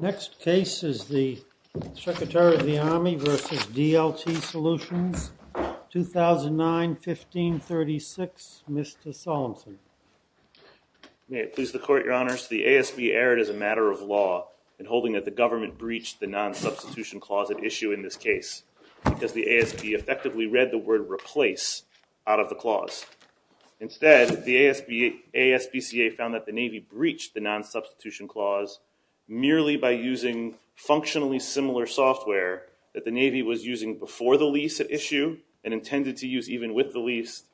Next case is the Secretary of the Army versus DLT Solutions, 2009, 1536, Mr. Solemson. May it please the Court, Your Honors. The ASB erred as a matter of law in holding that the government breached the non-substitution clause at issue in this case, because the ASB effectively read the word replace out of the clause. Instead, the ASBCA found that the Navy breached the non-substitution clause merely by using functionally similar software that the Navy was using before the lease at issue and intended to use even with the lease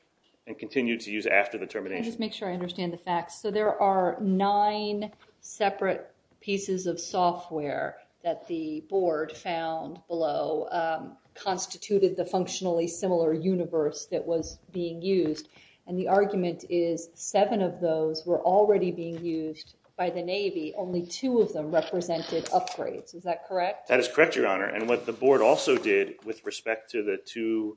and continue to use after the termination. Let me just make sure I understand the facts. So there are nine separate pieces of software that the board found below constituted the functionally similar universe that was being used. And the argument is seven of those were already being used by the Navy. Only two of them represented upgrades. Is that correct? That is correct, Your Honor. And what the board also did with respect to the two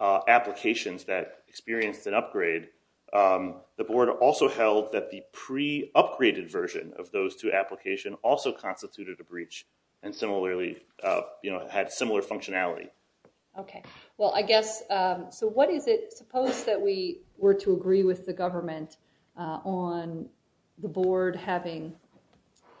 applications that experienced an upgrade, the board also held that the pre-upgraded version of those two application also constituted a breach and similarly had similar functionality. OK. Well, I guess, so what is it? Suppose that we were to agree with the government on the board having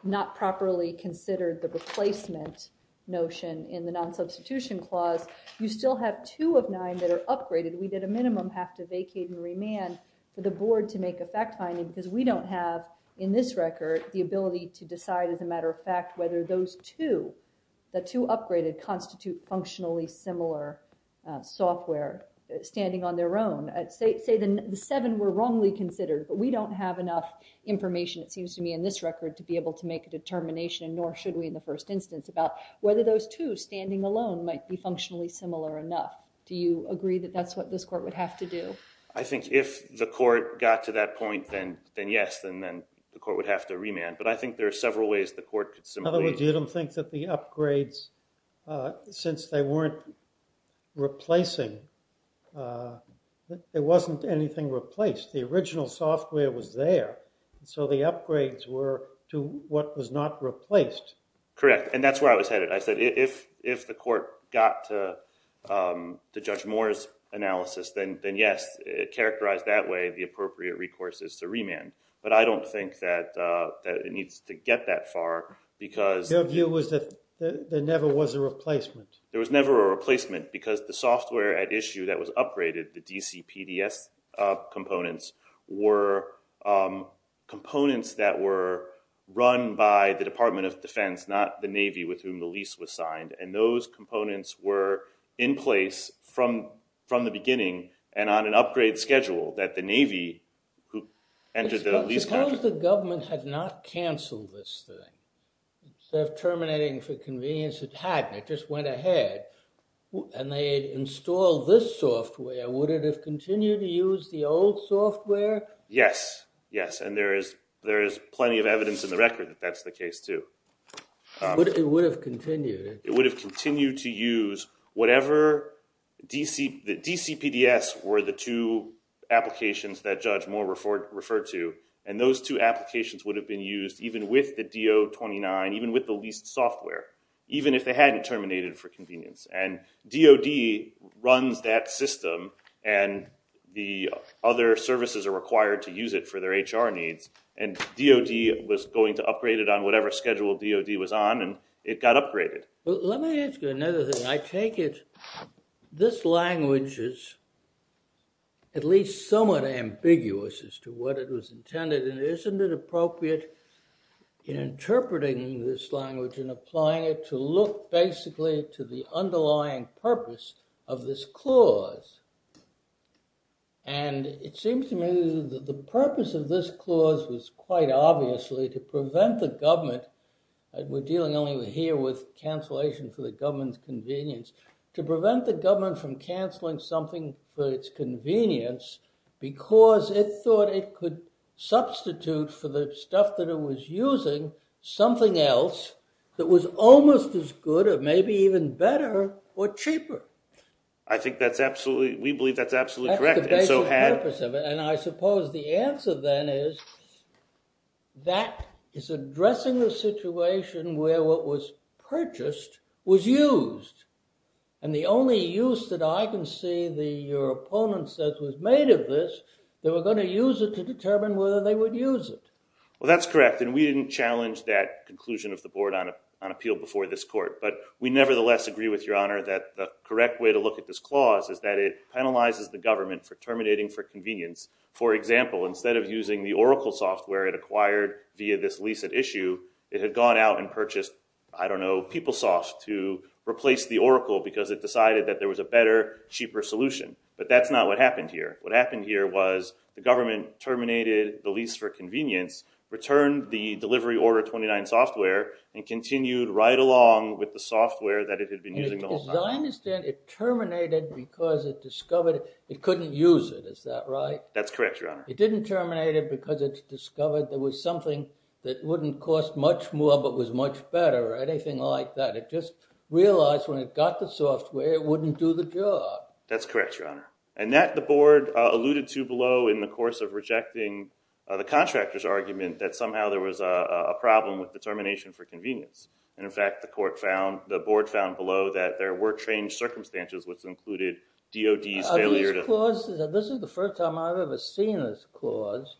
not properly considered the replacement notion in the non-substitution clause. You still have two of nine that are upgraded. We, at a minimum, have to vacate and remand for the board to make a fact finding because we don't have, in this record, the ability to decide as a matter of fact whether those two, the two upgraded, constitute functionally similar software standing on their own. Say the seven were wrongly considered, but we don't have enough information, it seems to me, in this record to be able to make a determination, nor should we in the first instance, about whether those two standing alone might be functionally similar enough. Do you agree that that's what this court would have to do? I think if the court got to that point, then yes. Then the court would have to remand. But I think there are several ways the court could simulate. In other words, you don't think that the upgrades, since they weren't replacing, there wasn't anything replaced. The original software was there, so the upgrades were to what was not replaced. Correct. And that's where I was headed. I said if the court got to Judge Moore's analysis, then yes, it characterized that way, the appropriate recourse is to remand. But I don't think that it needs to get that far because Your view was that there never was a replacement. There was never a replacement because the software at issue that was upgraded, the DC PDS components, were components that were run by the Department of Defense, not the Navy, with whom the lease was signed. And those components were in place from the beginning and on an upgrade schedule that the Navy, who entered the lease contract. Suppose the government had not canceled this thing. Instead of terminating for convenience, it hadn't, it just went ahead. And they had installed this software. Would it have continued to use the old software? Yes, yes. And there is plenty of evidence in the record that that's the case, too. It would have continued. It would have continued to use whatever the DC PDS were the two applications that Judge Moore referred to. And those two applications would have been used even with the DO-29, even with the leased software, even if they hadn't terminated for convenience. And DOD runs that system. And the other services are required to use it for their HR needs. And DOD was going to upgrade it on whatever schedule DOD was on, and it got upgraded. Let me ask you another thing. I take it this language is at least somewhat ambiguous as to what it was intended. And isn't it appropriate in interpreting this language and applying it to look basically to the underlying purpose of this clause? And it seems to me that the purpose of this clause was quite obviously to prevent the government. We're dealing only here with cancellation for the government's convenience. To prevent the government from canceling something for its convenience because it thought it could substitute for the stuff that it was using something else that was almost as good, or maybe even better, or cheaper. I think that's absolutely, we believe that's absolutely correct. That's the basic purpose of it. And I suppose the answer then is that is addressing the situation where what was purchased was used. And the only use that I can see that your opponent says was made of this, they were going to use it to determine whether they would use it. Well, that's correct. And we didn't challenge that conclusion of the board on appeal before this court. But we nevertheless agree with your honor that the correct way to look at this clause is that it penalizes the government for terminating for convenience. For example, instead of using the Oracle software it acquired via this lease at issue, it had gone out and purchased, I don't know, PeopleSoft to replace the Oracle because it decided that there was a better, cheaper solution. But that's not what happened here. What happened here was the government terminated the lease for convenience, returned the delivery order 29 software, and continued right along with the software that it had been using the whole time. As I understand, it terminated because it discovered it couldn't use it. Is that right? That's correct, your honor. It didn't terminate it because it discovered there was something that wouldn't cost much more, but was much better, or anything like that. It just realized when it got the software, it wouldn't do the job. That's correct, your honor. And that the board alluded to below in the course of rejecting the contractor's argument that somehow there was a problem with the termination for convenience. And in fact, the board found below that there were changed circumstances, which included DOD's failure to- This is the first time I've ever seen this clause.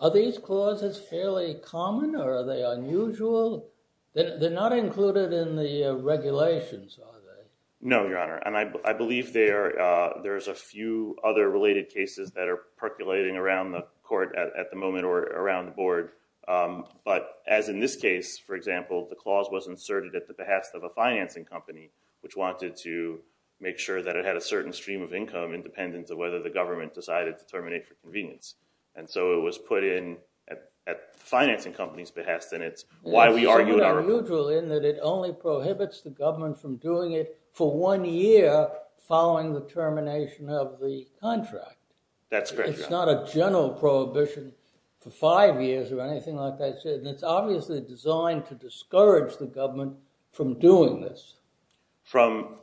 Are these clauses fairly common, or are they unusual? They're not included in the regulations, are they? No, your honor. And I believe there's a few other related cases that are percolating around the court at the moment, or around the board. But as in this case, for example, the clause was inserted at the behest of a financing company, which wanted to make sure that it had a certain stream of income, independent of whether the government decided to terminate for convenience. And so it was put in at the financing company's behest. And it's why we argue in our- It's so unusual in that it only prohibits the government from doing it for one year following the termination of the contract. That's correct, your honor. It's not a general prohibition for five years, or anything like that. And it's obviously designed to discourage the government from doing this. From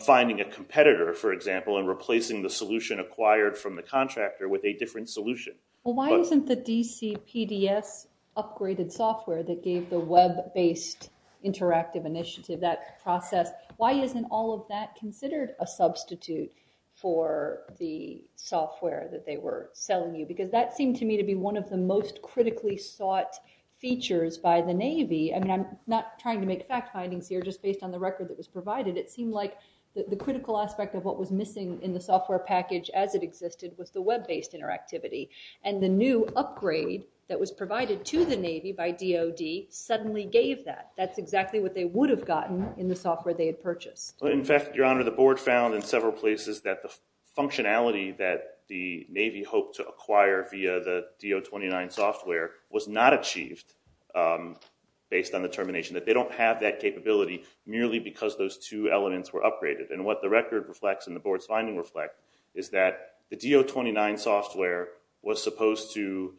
finding a competitor, for example, and replacing the solution acquired from the contractor with a different solution. Well, why isn't the DC PDS upgraded software that gave the web-based interactive initiative that process, why isn't all of that considered a substitute for the software that they were selling you? Because that seemed to me to be one of the most critically sought features by the Navy. I mean, I'm not trying to make fact findings here, just based on the record that was provided. It seemed like the critical aspect of what was missing in the software package as it existed was the web-based interactivity. And the new upgrade that was provided to the Navy by DoD suddenly gave that. That's exactly what they would have gotten in the software they had purchased. In fact, your honor, the board found in several places that the functionality that the Navy hoped to acquire via the DO-29 software was not achieved based on the termination. That they don't have that capability merely because those two elements were upgraded. And what the record reflects and the board's findings reflect is that the DO-29 software was supposed to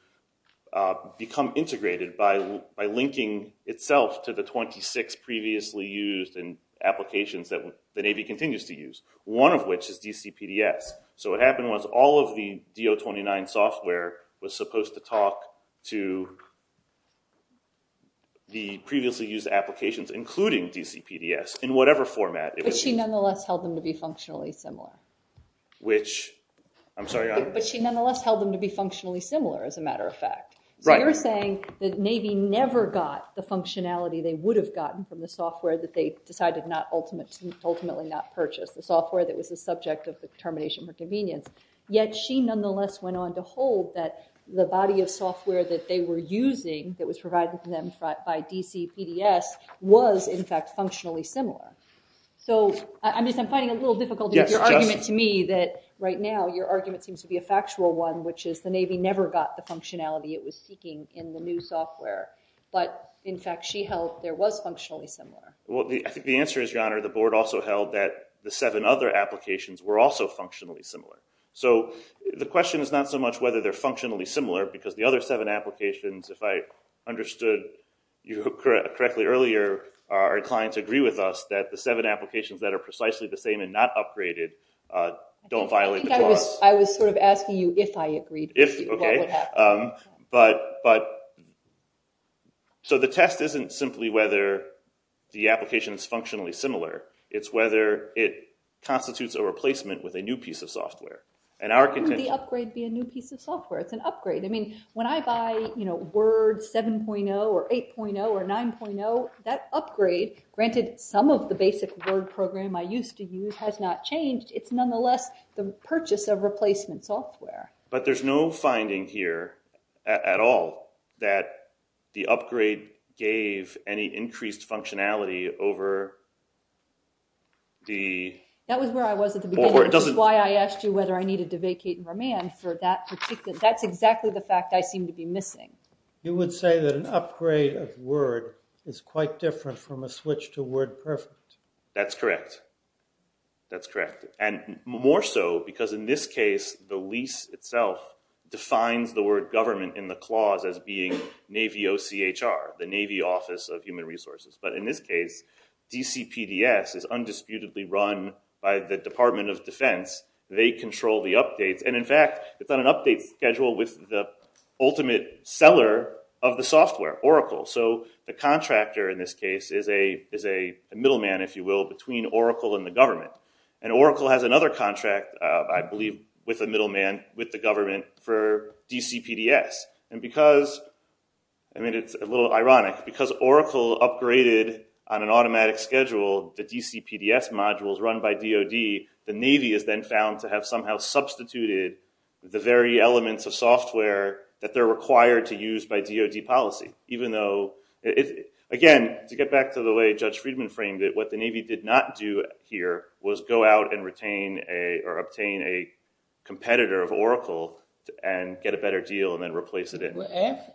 become integrated by linking itself to the 26 previously used applications that the Navy continues to use, one of which is DCPDS. So what happened was all of the DO-29 software was supposed to talk to the previously used applications, including DCPDS, in whatever format it was used. But she nonetheless held them to be functionally similar. Which, I'm sorry, your honor? But she nonetheless held them to be functionally similar, as a matter of fact. So you're saying that Navy never got the functionality they would have gotten from the software that they decided to ultimately not purchase, the software that was the subject of the termination for convenience. Yet she nonetheless went on to hold that the body of software that they were using that was provided to them by DCPDS was, in fact, functionally similar. So I'm finding it a little difficult to make your argument to me that right now your argument seems to be a factual one, which is the Navy never got the functionality it was seeking in the new software. But in fact, she held there was functionally similar. Well, I think the answer is, your honor, the board also held that the seven other applications were also functionally similar. So the question is not so much whether they're functionally similar, because the other seven applications, if I understood you correctly earlier, our clients agree with us that the seven applications that are precisely the same and not upgraded don't violate the clause. I was sort of asking you if I agreed with you. If, OK. So the test isn't simply whether the application is functionally similar. It's whether it constitutes a replacement with a new piece of software. And our contention. How could the upgrade be a new piece of software? It's an upgrade. I mean, when I buy Word 7.0 or 8.0 or 9.0, that upgrade, granted some of the basic Word program I used to use has not changed, it's a replacement software. But there's no finding here at all that the upgrade gave any increased functionality over the board. That was where I was at the beginning, which is why I asked you whether I needed to vacate and remand for that particular. That's exactly the fact I seem to be missing. You would say that an upgrade of Word is quite different from a switch to Word Perfect. That's correct. That's correct. And more so because in this case, the lease itself defines the word government in the clause as being Navy OCHR, the Navy Office of Human Resources. But in this case, DCPDS is undisputedly run by the Department of Defense. They control the updates. And in fact, it's on an update schedule with the ultimate seller of the software, Oracle. So the contractor in this case is a middleman, if you will, between Oracle and the government. And Oracle has another contract, I believe, with a middleman with the government for DCPDS. And because, I mean, it's a little ironic, because Oracle upgraded on an automatic schedule the DCPDS modules run by DoD, the Navy is then found to have somehow substituted the very elements of software that they're required to use by DoD policy. Even though, again, to get back to the way Judge Friedman framed it, what the Navy did not do here was go out and obtain a competitor of Oracle and get a better deal and then replace it in.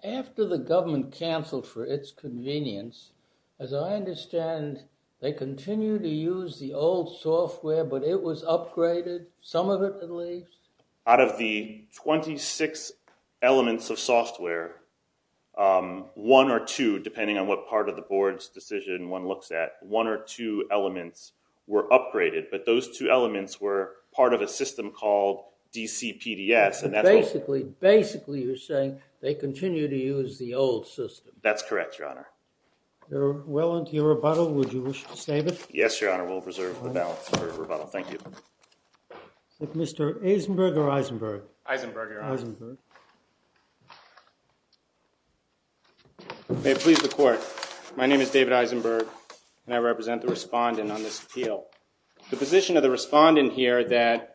After the government canceled for its convenience, as I understand, they continue to use the old software, but it was upgraded, some of it at least? Out of the 26 elements of software, one or two, depending on what part of the board's decision one looks at, one or two elements were upgraded. But those two elements were part of a system called DCPDS. And that's what- Basically, you're saying they continue to use the old system. That's correct, Your Honor. You're well into your rebuttal. Would you wish to save it? Yes, Your Honor, we'll reserve the balance for rebuttal. Thank you. Is it Mr. Eisenberg or Eisenberg? Eisenberg, Your Honor. Eisenberg. May it please the court, my name is David Eisenberg. And I represent the respondent on this appeal. The position of the respondent here that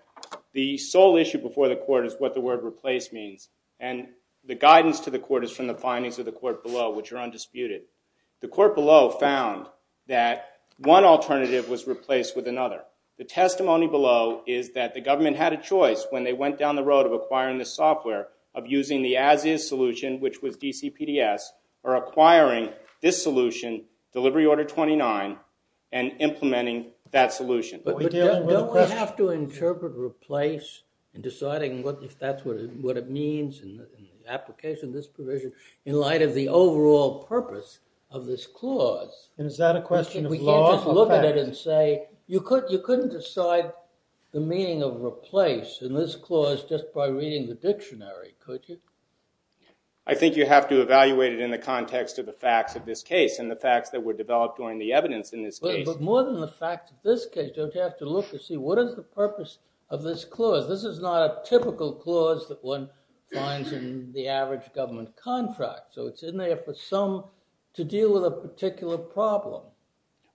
the sole issue before the court is what the word replace means. And the guidance to the court is from the findings of the court below, which are undisputed. The court below found that one alternative was replaced with another. The testimony below is that the government had a choice when they went down the road of acquiring this software, of using the as-is solution, which was DCPDS, or acquiring this solution, Delivery Order 29, and implementing that solution. But don't we have to interpret replace in deciding if that's what it means in the application of this provision, in light of the overall purpose of this clause? And is that a question of law or fact? We can't just look at it and say, you couldn't decide the meaning of replace in this clause just by reading the dictionary, could you? I think you have to evaluate it in the context of the facts of this case, and the facts that were developed during the evidence in this case. But more than the fact of this case, don't you have to look to see, what is the purpose of this clause? This is not a typical clause that one finds in the average government contract. So it's in there for some to deal with a particular problem.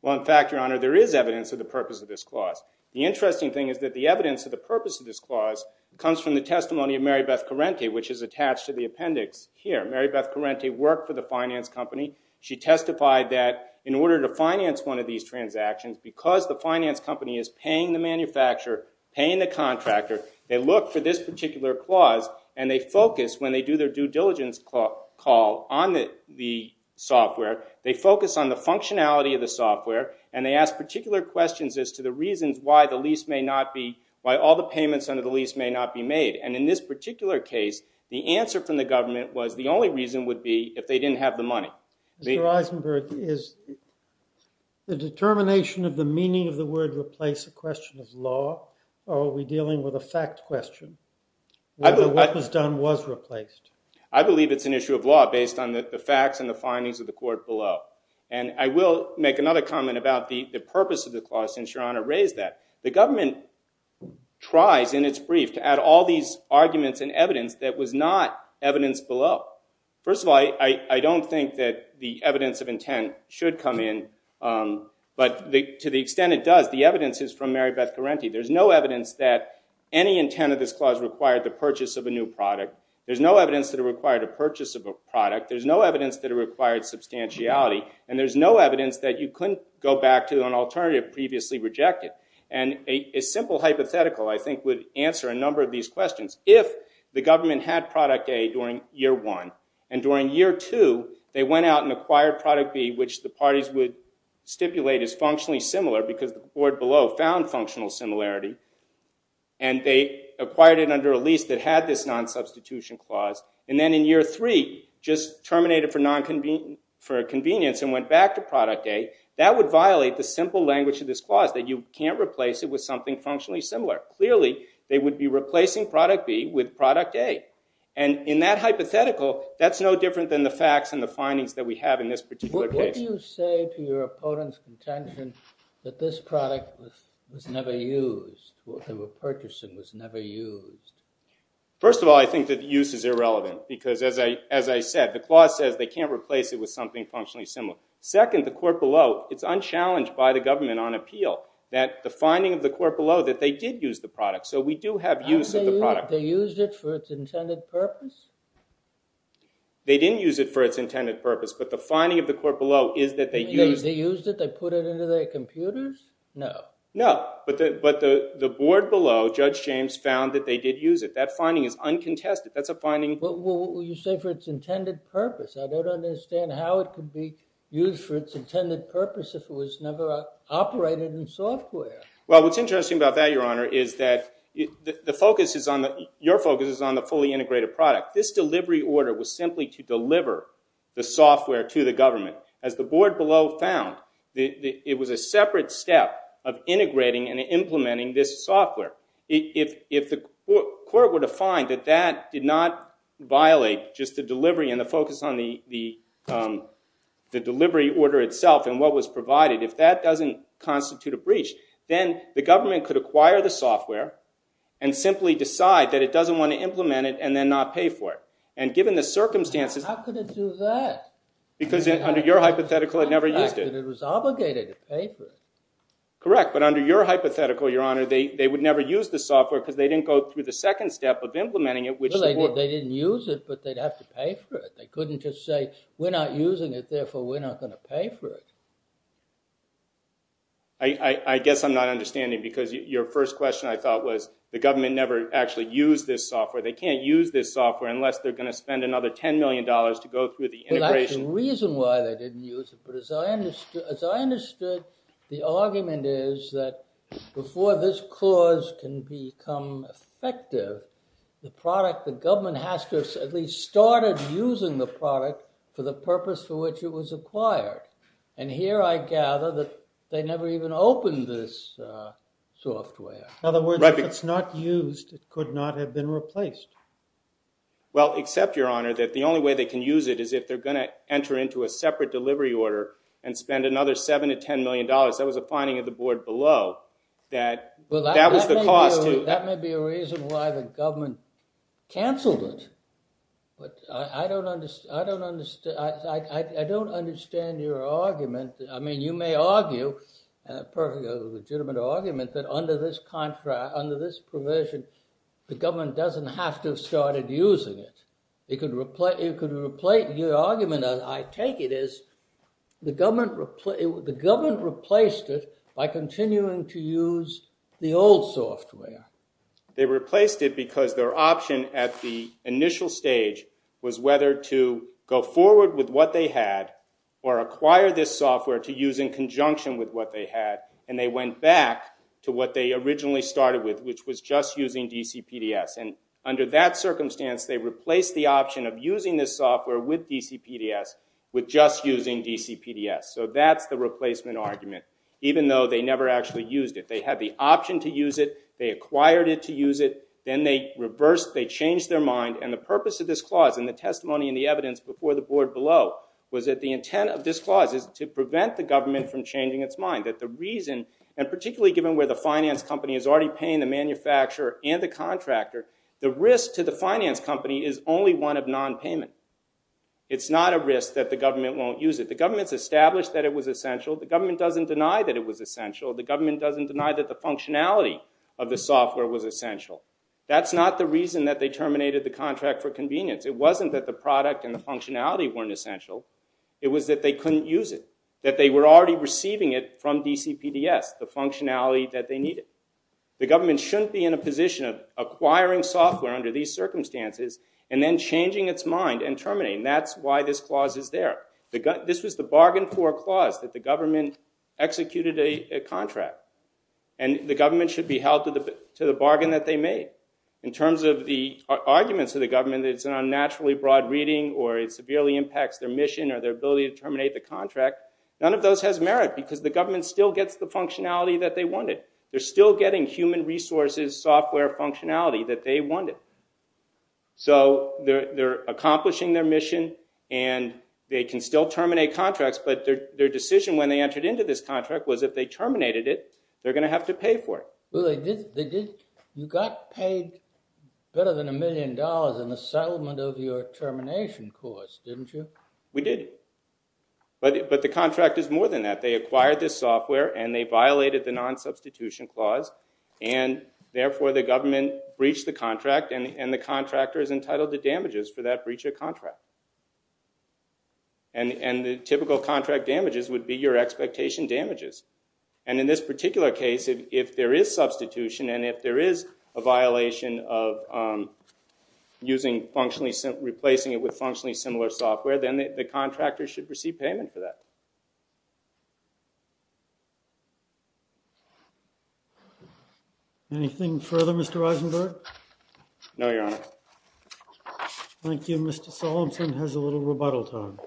Well, in fact, Your Honor, there is evidence of the purpose of this clause. The interesting thing is that the evidence of the purpose of this clause comes from the testimony of Mary Beth Corrente, which is attached to the appendix here. Mary Beth Corrente worked for the finance company. She testified that in order to finance one of these transactions, because the finance company is paying the manufacturer, paying the contractor, they look for this particular clause. And they focus, when they do their due diligence call on the software, they focus on the functionality of the software. And they ask particular questions as to the reasons why all the payments under the lease may not be made. And in this particular case, the answer from the government was the only reason would be if they didn't have the money. Mr. Eisenberg, is the determination of the meaning of the word replace a question of law, or are we dealing with a fact question? Whether what was done was replaced. I believe it's an issue of law based on the facts and the findings of the court below. And I will make another comment about the purpose of the clause, since Your Honor raised that. The government tries in its brief to add all these arguments and evidence that was not evidence below. First of all, I don't think that the evidence of intent should come in, but to the extent it does, the evidence is from Mary Beth Guarenti. There's no evidence that any intent of this clause required the purchase of a new product. There's no evidence that it required a purchase of a product. There's no evidence that it required substantiality. And there's no evidence that you couldn't go back to an alternative previously rejected. And a simple hypothetical, I think, would answer a number of these questions. If the government had product A during year one, and during year two, they went out and acquired product B, which the parties would stipulate as functionally similar, because the board below found functional similarity, and they acquired it under a lease that had this non-substitution clause, and then in year three, just terminated for convenience and went back to product A, that would violate the simple language of this clause, that you can't replace it with something functionally similar. Clearly, they would be replacing product B with product A. And in that hypothetical, that's no different than the facts and the findings that we have in this particular case. What do you say to your opponent's contention that this product was never used, what they were purchasing was never used? First of all, I think that use is irrelevant. Because as I said, the clause says they can't replace it with something functionally similar. Second, the court below, it's unchallenged by the government on appeal, that the finding of the court below that they did use the product. So we do have use of the product. They used it for its intended purpose? They didn't use it for its intended purpose. But the finding of the court below is that they used it. They used it? They put it into their computers? No. No. But the board below, Judge James, found that they did use it. That finding is uncontested. That's a finding. Well, you say for its intended purpose. I don't understand how it could be for its intended purpose if it was never operated in software. Well, what's interesting about that, Your Honor, is that your focus is on the fully integrated product. This delivery order was simply to deliver the software to the government. As the board below found, it was a separate step of integrating and implementing this software. If the court were to find that that did not violate just the delivery and the focus on the delivery order itself and what was provided, if that doesn't constitute a breach, then the government could acquire the software and simply decide that it doesn't want to implement it and then not pay for it. And given the circumstances, How could it do that? Because under your hypothetical, it never used it. It was obligated to pay for it. Correct. But under your hypothetical, Your Honor, they would never use the software because they didn't go through the second step of implementing it, which the board didn't use it, but they'd have to pay for it. They couldn't just say, we're not using it, therefore, we're not going to pay for it. I guess I'm not understanding because your first question, I thought, was the government never actually used this software. They can't use this software unless they're going to spend another $10 million to go through the integration. That's the reason why they didn't use it. But as I understood, the argument is that before this clause can become effective, the product, the government has to have at least started using the product for the purpose for which it was acquired. And here I gather that they never even opened this software. In other words, if it's not used, it could not have been replaced. Well, except, Your Honor, that the only way they can use it is if they're going to enter into a separate delivery order and spend another $7 to $10 million. That was a finding of the board below that that was the cost. That may be a reason why the government canceled it. But I don't understand your argument. I mean, you may argue, a legitimate argument, that under this provision, the government doesn't have to have started using it. It could replace your argument. I take it as the government replaced it by continuing to use the old software. They replaced it because their option at the initial stage was whether to go forward with what they had or acquire this software to use in conjunction with what they had. And they went back to what they originally started with, which was just using DC PDS. And under that circumstance, they replaced the option of using this software with DC PDS with just using DC PDS. So that's the replacement argument, even though they never actually used it. They had the option to use it. They acquired it to use it. Then they reversed. They changed their mind. And the purpose of this clause in the testimony and the evidence before the board below was that the intent of this clause is to prevent the government from changing its mind, that the reason, and particularly given where the finance company is already paying the manufacturer and the contractor, the risk to the finance company is only one of non-payment. It's not a risk that the government won't use it. The government's established that it was essential. The government doesn't deny that it was essential. The government doesn't deny that the functionality of the software was essential. That's not the reason that they terminated the contract for convenience. It wasn't that the product and the functionality weren't essential. It was that they couldn't use it, that they were already receiving it from DC PDS, the functionality that they needed. The government shouldn't be in a position of acquiring software under these circumstances and then changing its mind and terminating. That's why this clause is there. This was the bargain for a clause that the government executed a contract. And the government should be held to the bargain that they made. In terms of the arguments of the government that it's an unnaturally broad reading or it severely impacts their mission or their ability to terminate the contract, none of those has merit because the government still gets the functionality that they wanted. They're still getting human resources software functionality that they wanted. So they're accomplishing their mission and they can still terminate contracts, but their decision when they entered into this contract was if they terminated it, they're going to have to pay for it. You got paid better than a million dollars in the settlement of your termination clause, didn't you? We did. But the contract is more than that. They acquired this software and they violated the non-substitution clause. And therefore, the government breached the contract and the contractor is entitled to damages for that breach of contract. And the typical contract damages would be your expectation damages. And in this particular case, if there is substitution and if there is a violation of replacing it with functionally similar software, then the contractor should receive payment for that. Anything further, Mr. Eisenberg? No, Your Honor. Thank you. Mr. Solomson has a little rebuttal time.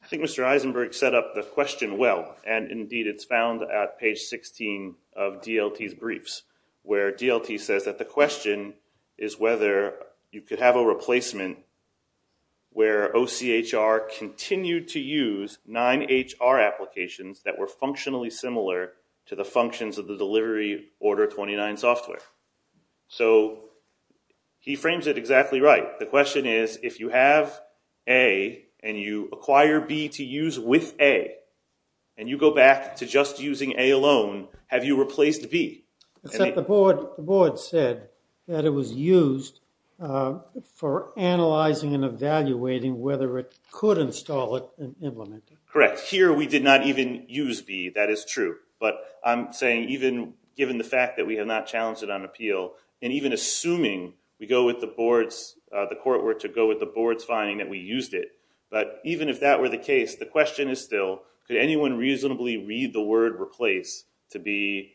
I think Mr. Eisenberg set up the question well. And indeed, it's found at page 16 of DLT's briefs, where DLT says that the question is whether you could have a replacement where OCHR continued to use nine HR applications that were functionally similar to the functions of the delivery order 29 software. So he frames it exactly right. The question is, if you have A and you acquire B to use with A and you go back to just using A alone, have you replaced B? Except the board said that it was used for analyzing and evaluating whether it could install it and implement it. Correct. Here, we did not even use B. That is true. But I'm saying, even given the fact that we have not challenged it on appeal, and even assuming we go with the board's, the court were to go with the board's finding that we used it. But even if that were the case, the question is still, could anyone reasonably read the word replace to be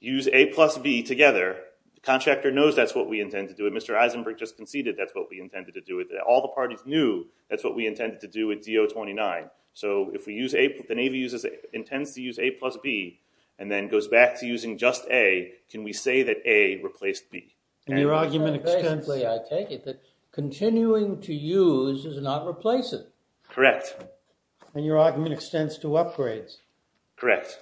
use A plus B together? The contractor knows that's what we intend to do. And Mr. Eisenberg just conceded that's what we intended to do. All the parties knew that's what we intended to do with DO 29. So if we use A, the Navy intends to use A plus B, and then goes back to using just A, can we say that A replaced B? And your argument extends. I take it that continuing to use does not replace it. Correct. And your argument extends to upgrades. Correct.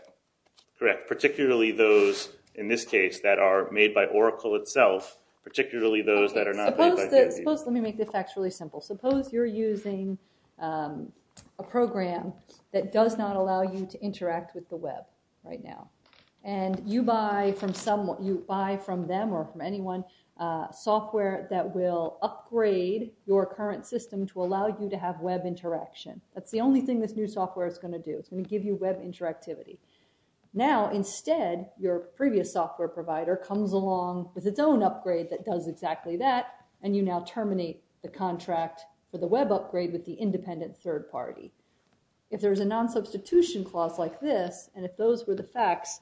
Correct, particularly those, in this case, that are made by Oracle itself, particularly those that are not made by DoD. Let me make the facts really simple. Suppose you're using a program that does not allow you to interact with the web right now. And you buy from them or from anyone software that will upgrade your current system to allow you to have web interaction. That's the only thing this new software is going to do. It's going to give you web interactivity. Now, instead, your previous software provider comes along with its own upgrade that does exactly that, and you now terminate the contract for the web upgrade with the independent third party. If there is a non-substitution clause like this, and if those were the facts,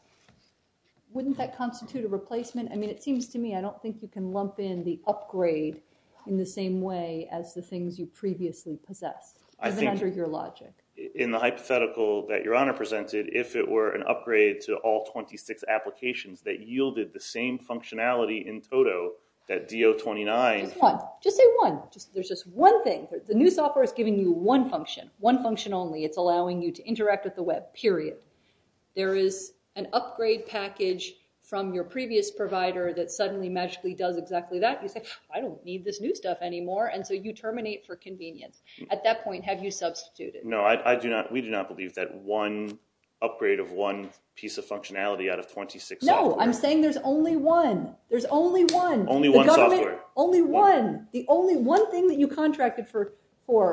wouldn't that constitute a replacement? I mean, it seems to me I don't think you can lump in the upgrade in the same way as the things you previously possessed, as an under your logic. In the hypothetical that Your Honor presented, if it were an upgrade to all 26 applications that yielded the same functionality in total that DO-29. Just say one. There's just one thing. The new software is giving you one function, one function only. It's allowing you to interact with the web, period. There is an upgrade package from your previous provider that suddenly magically does exactly that. You say, I don't need this new stuff anymore. And so you terminate for convenience. At that point, have you substituted? We do not believe that one upgrade of one piece of functionality out of 26 software. No, I'm saying there's only one. There's only one. Only one software. Only one. The only one thing that you contracted for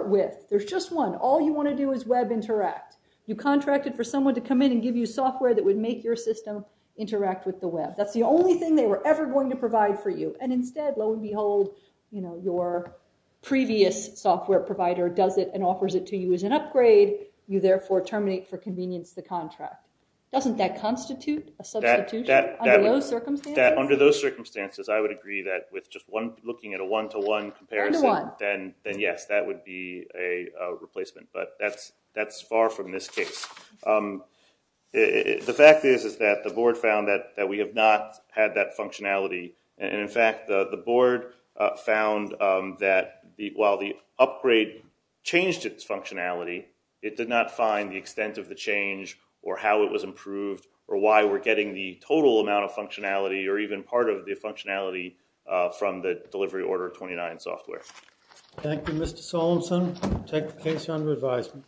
with. There's just one. All you want to do is web interact. You contracted for someone to come in and give you software that would make your system interact with the web. That's the only thing they were ever going to provide for you. And instead, lo and behold, your previous software provider does it and offers it to you as an upgrade. You therefore terminate for convenience the contract. Doesn't that constitute a substitution under those circumstances? Under those circumstances, I would agree that with just looking at a one to one comparison, then yes, that would be a replacement. But that's far from this case. The fact is that the board found that we have not had that functionality. And in fact, the board found that while the upgrade changed its functionality, it did not find the extent of the change or how it was improved or why we're getting the total amount of functionality or even part of the functionality from the delivery order 29 software. Thank you, Mr. Solemson. Take the case under advisement.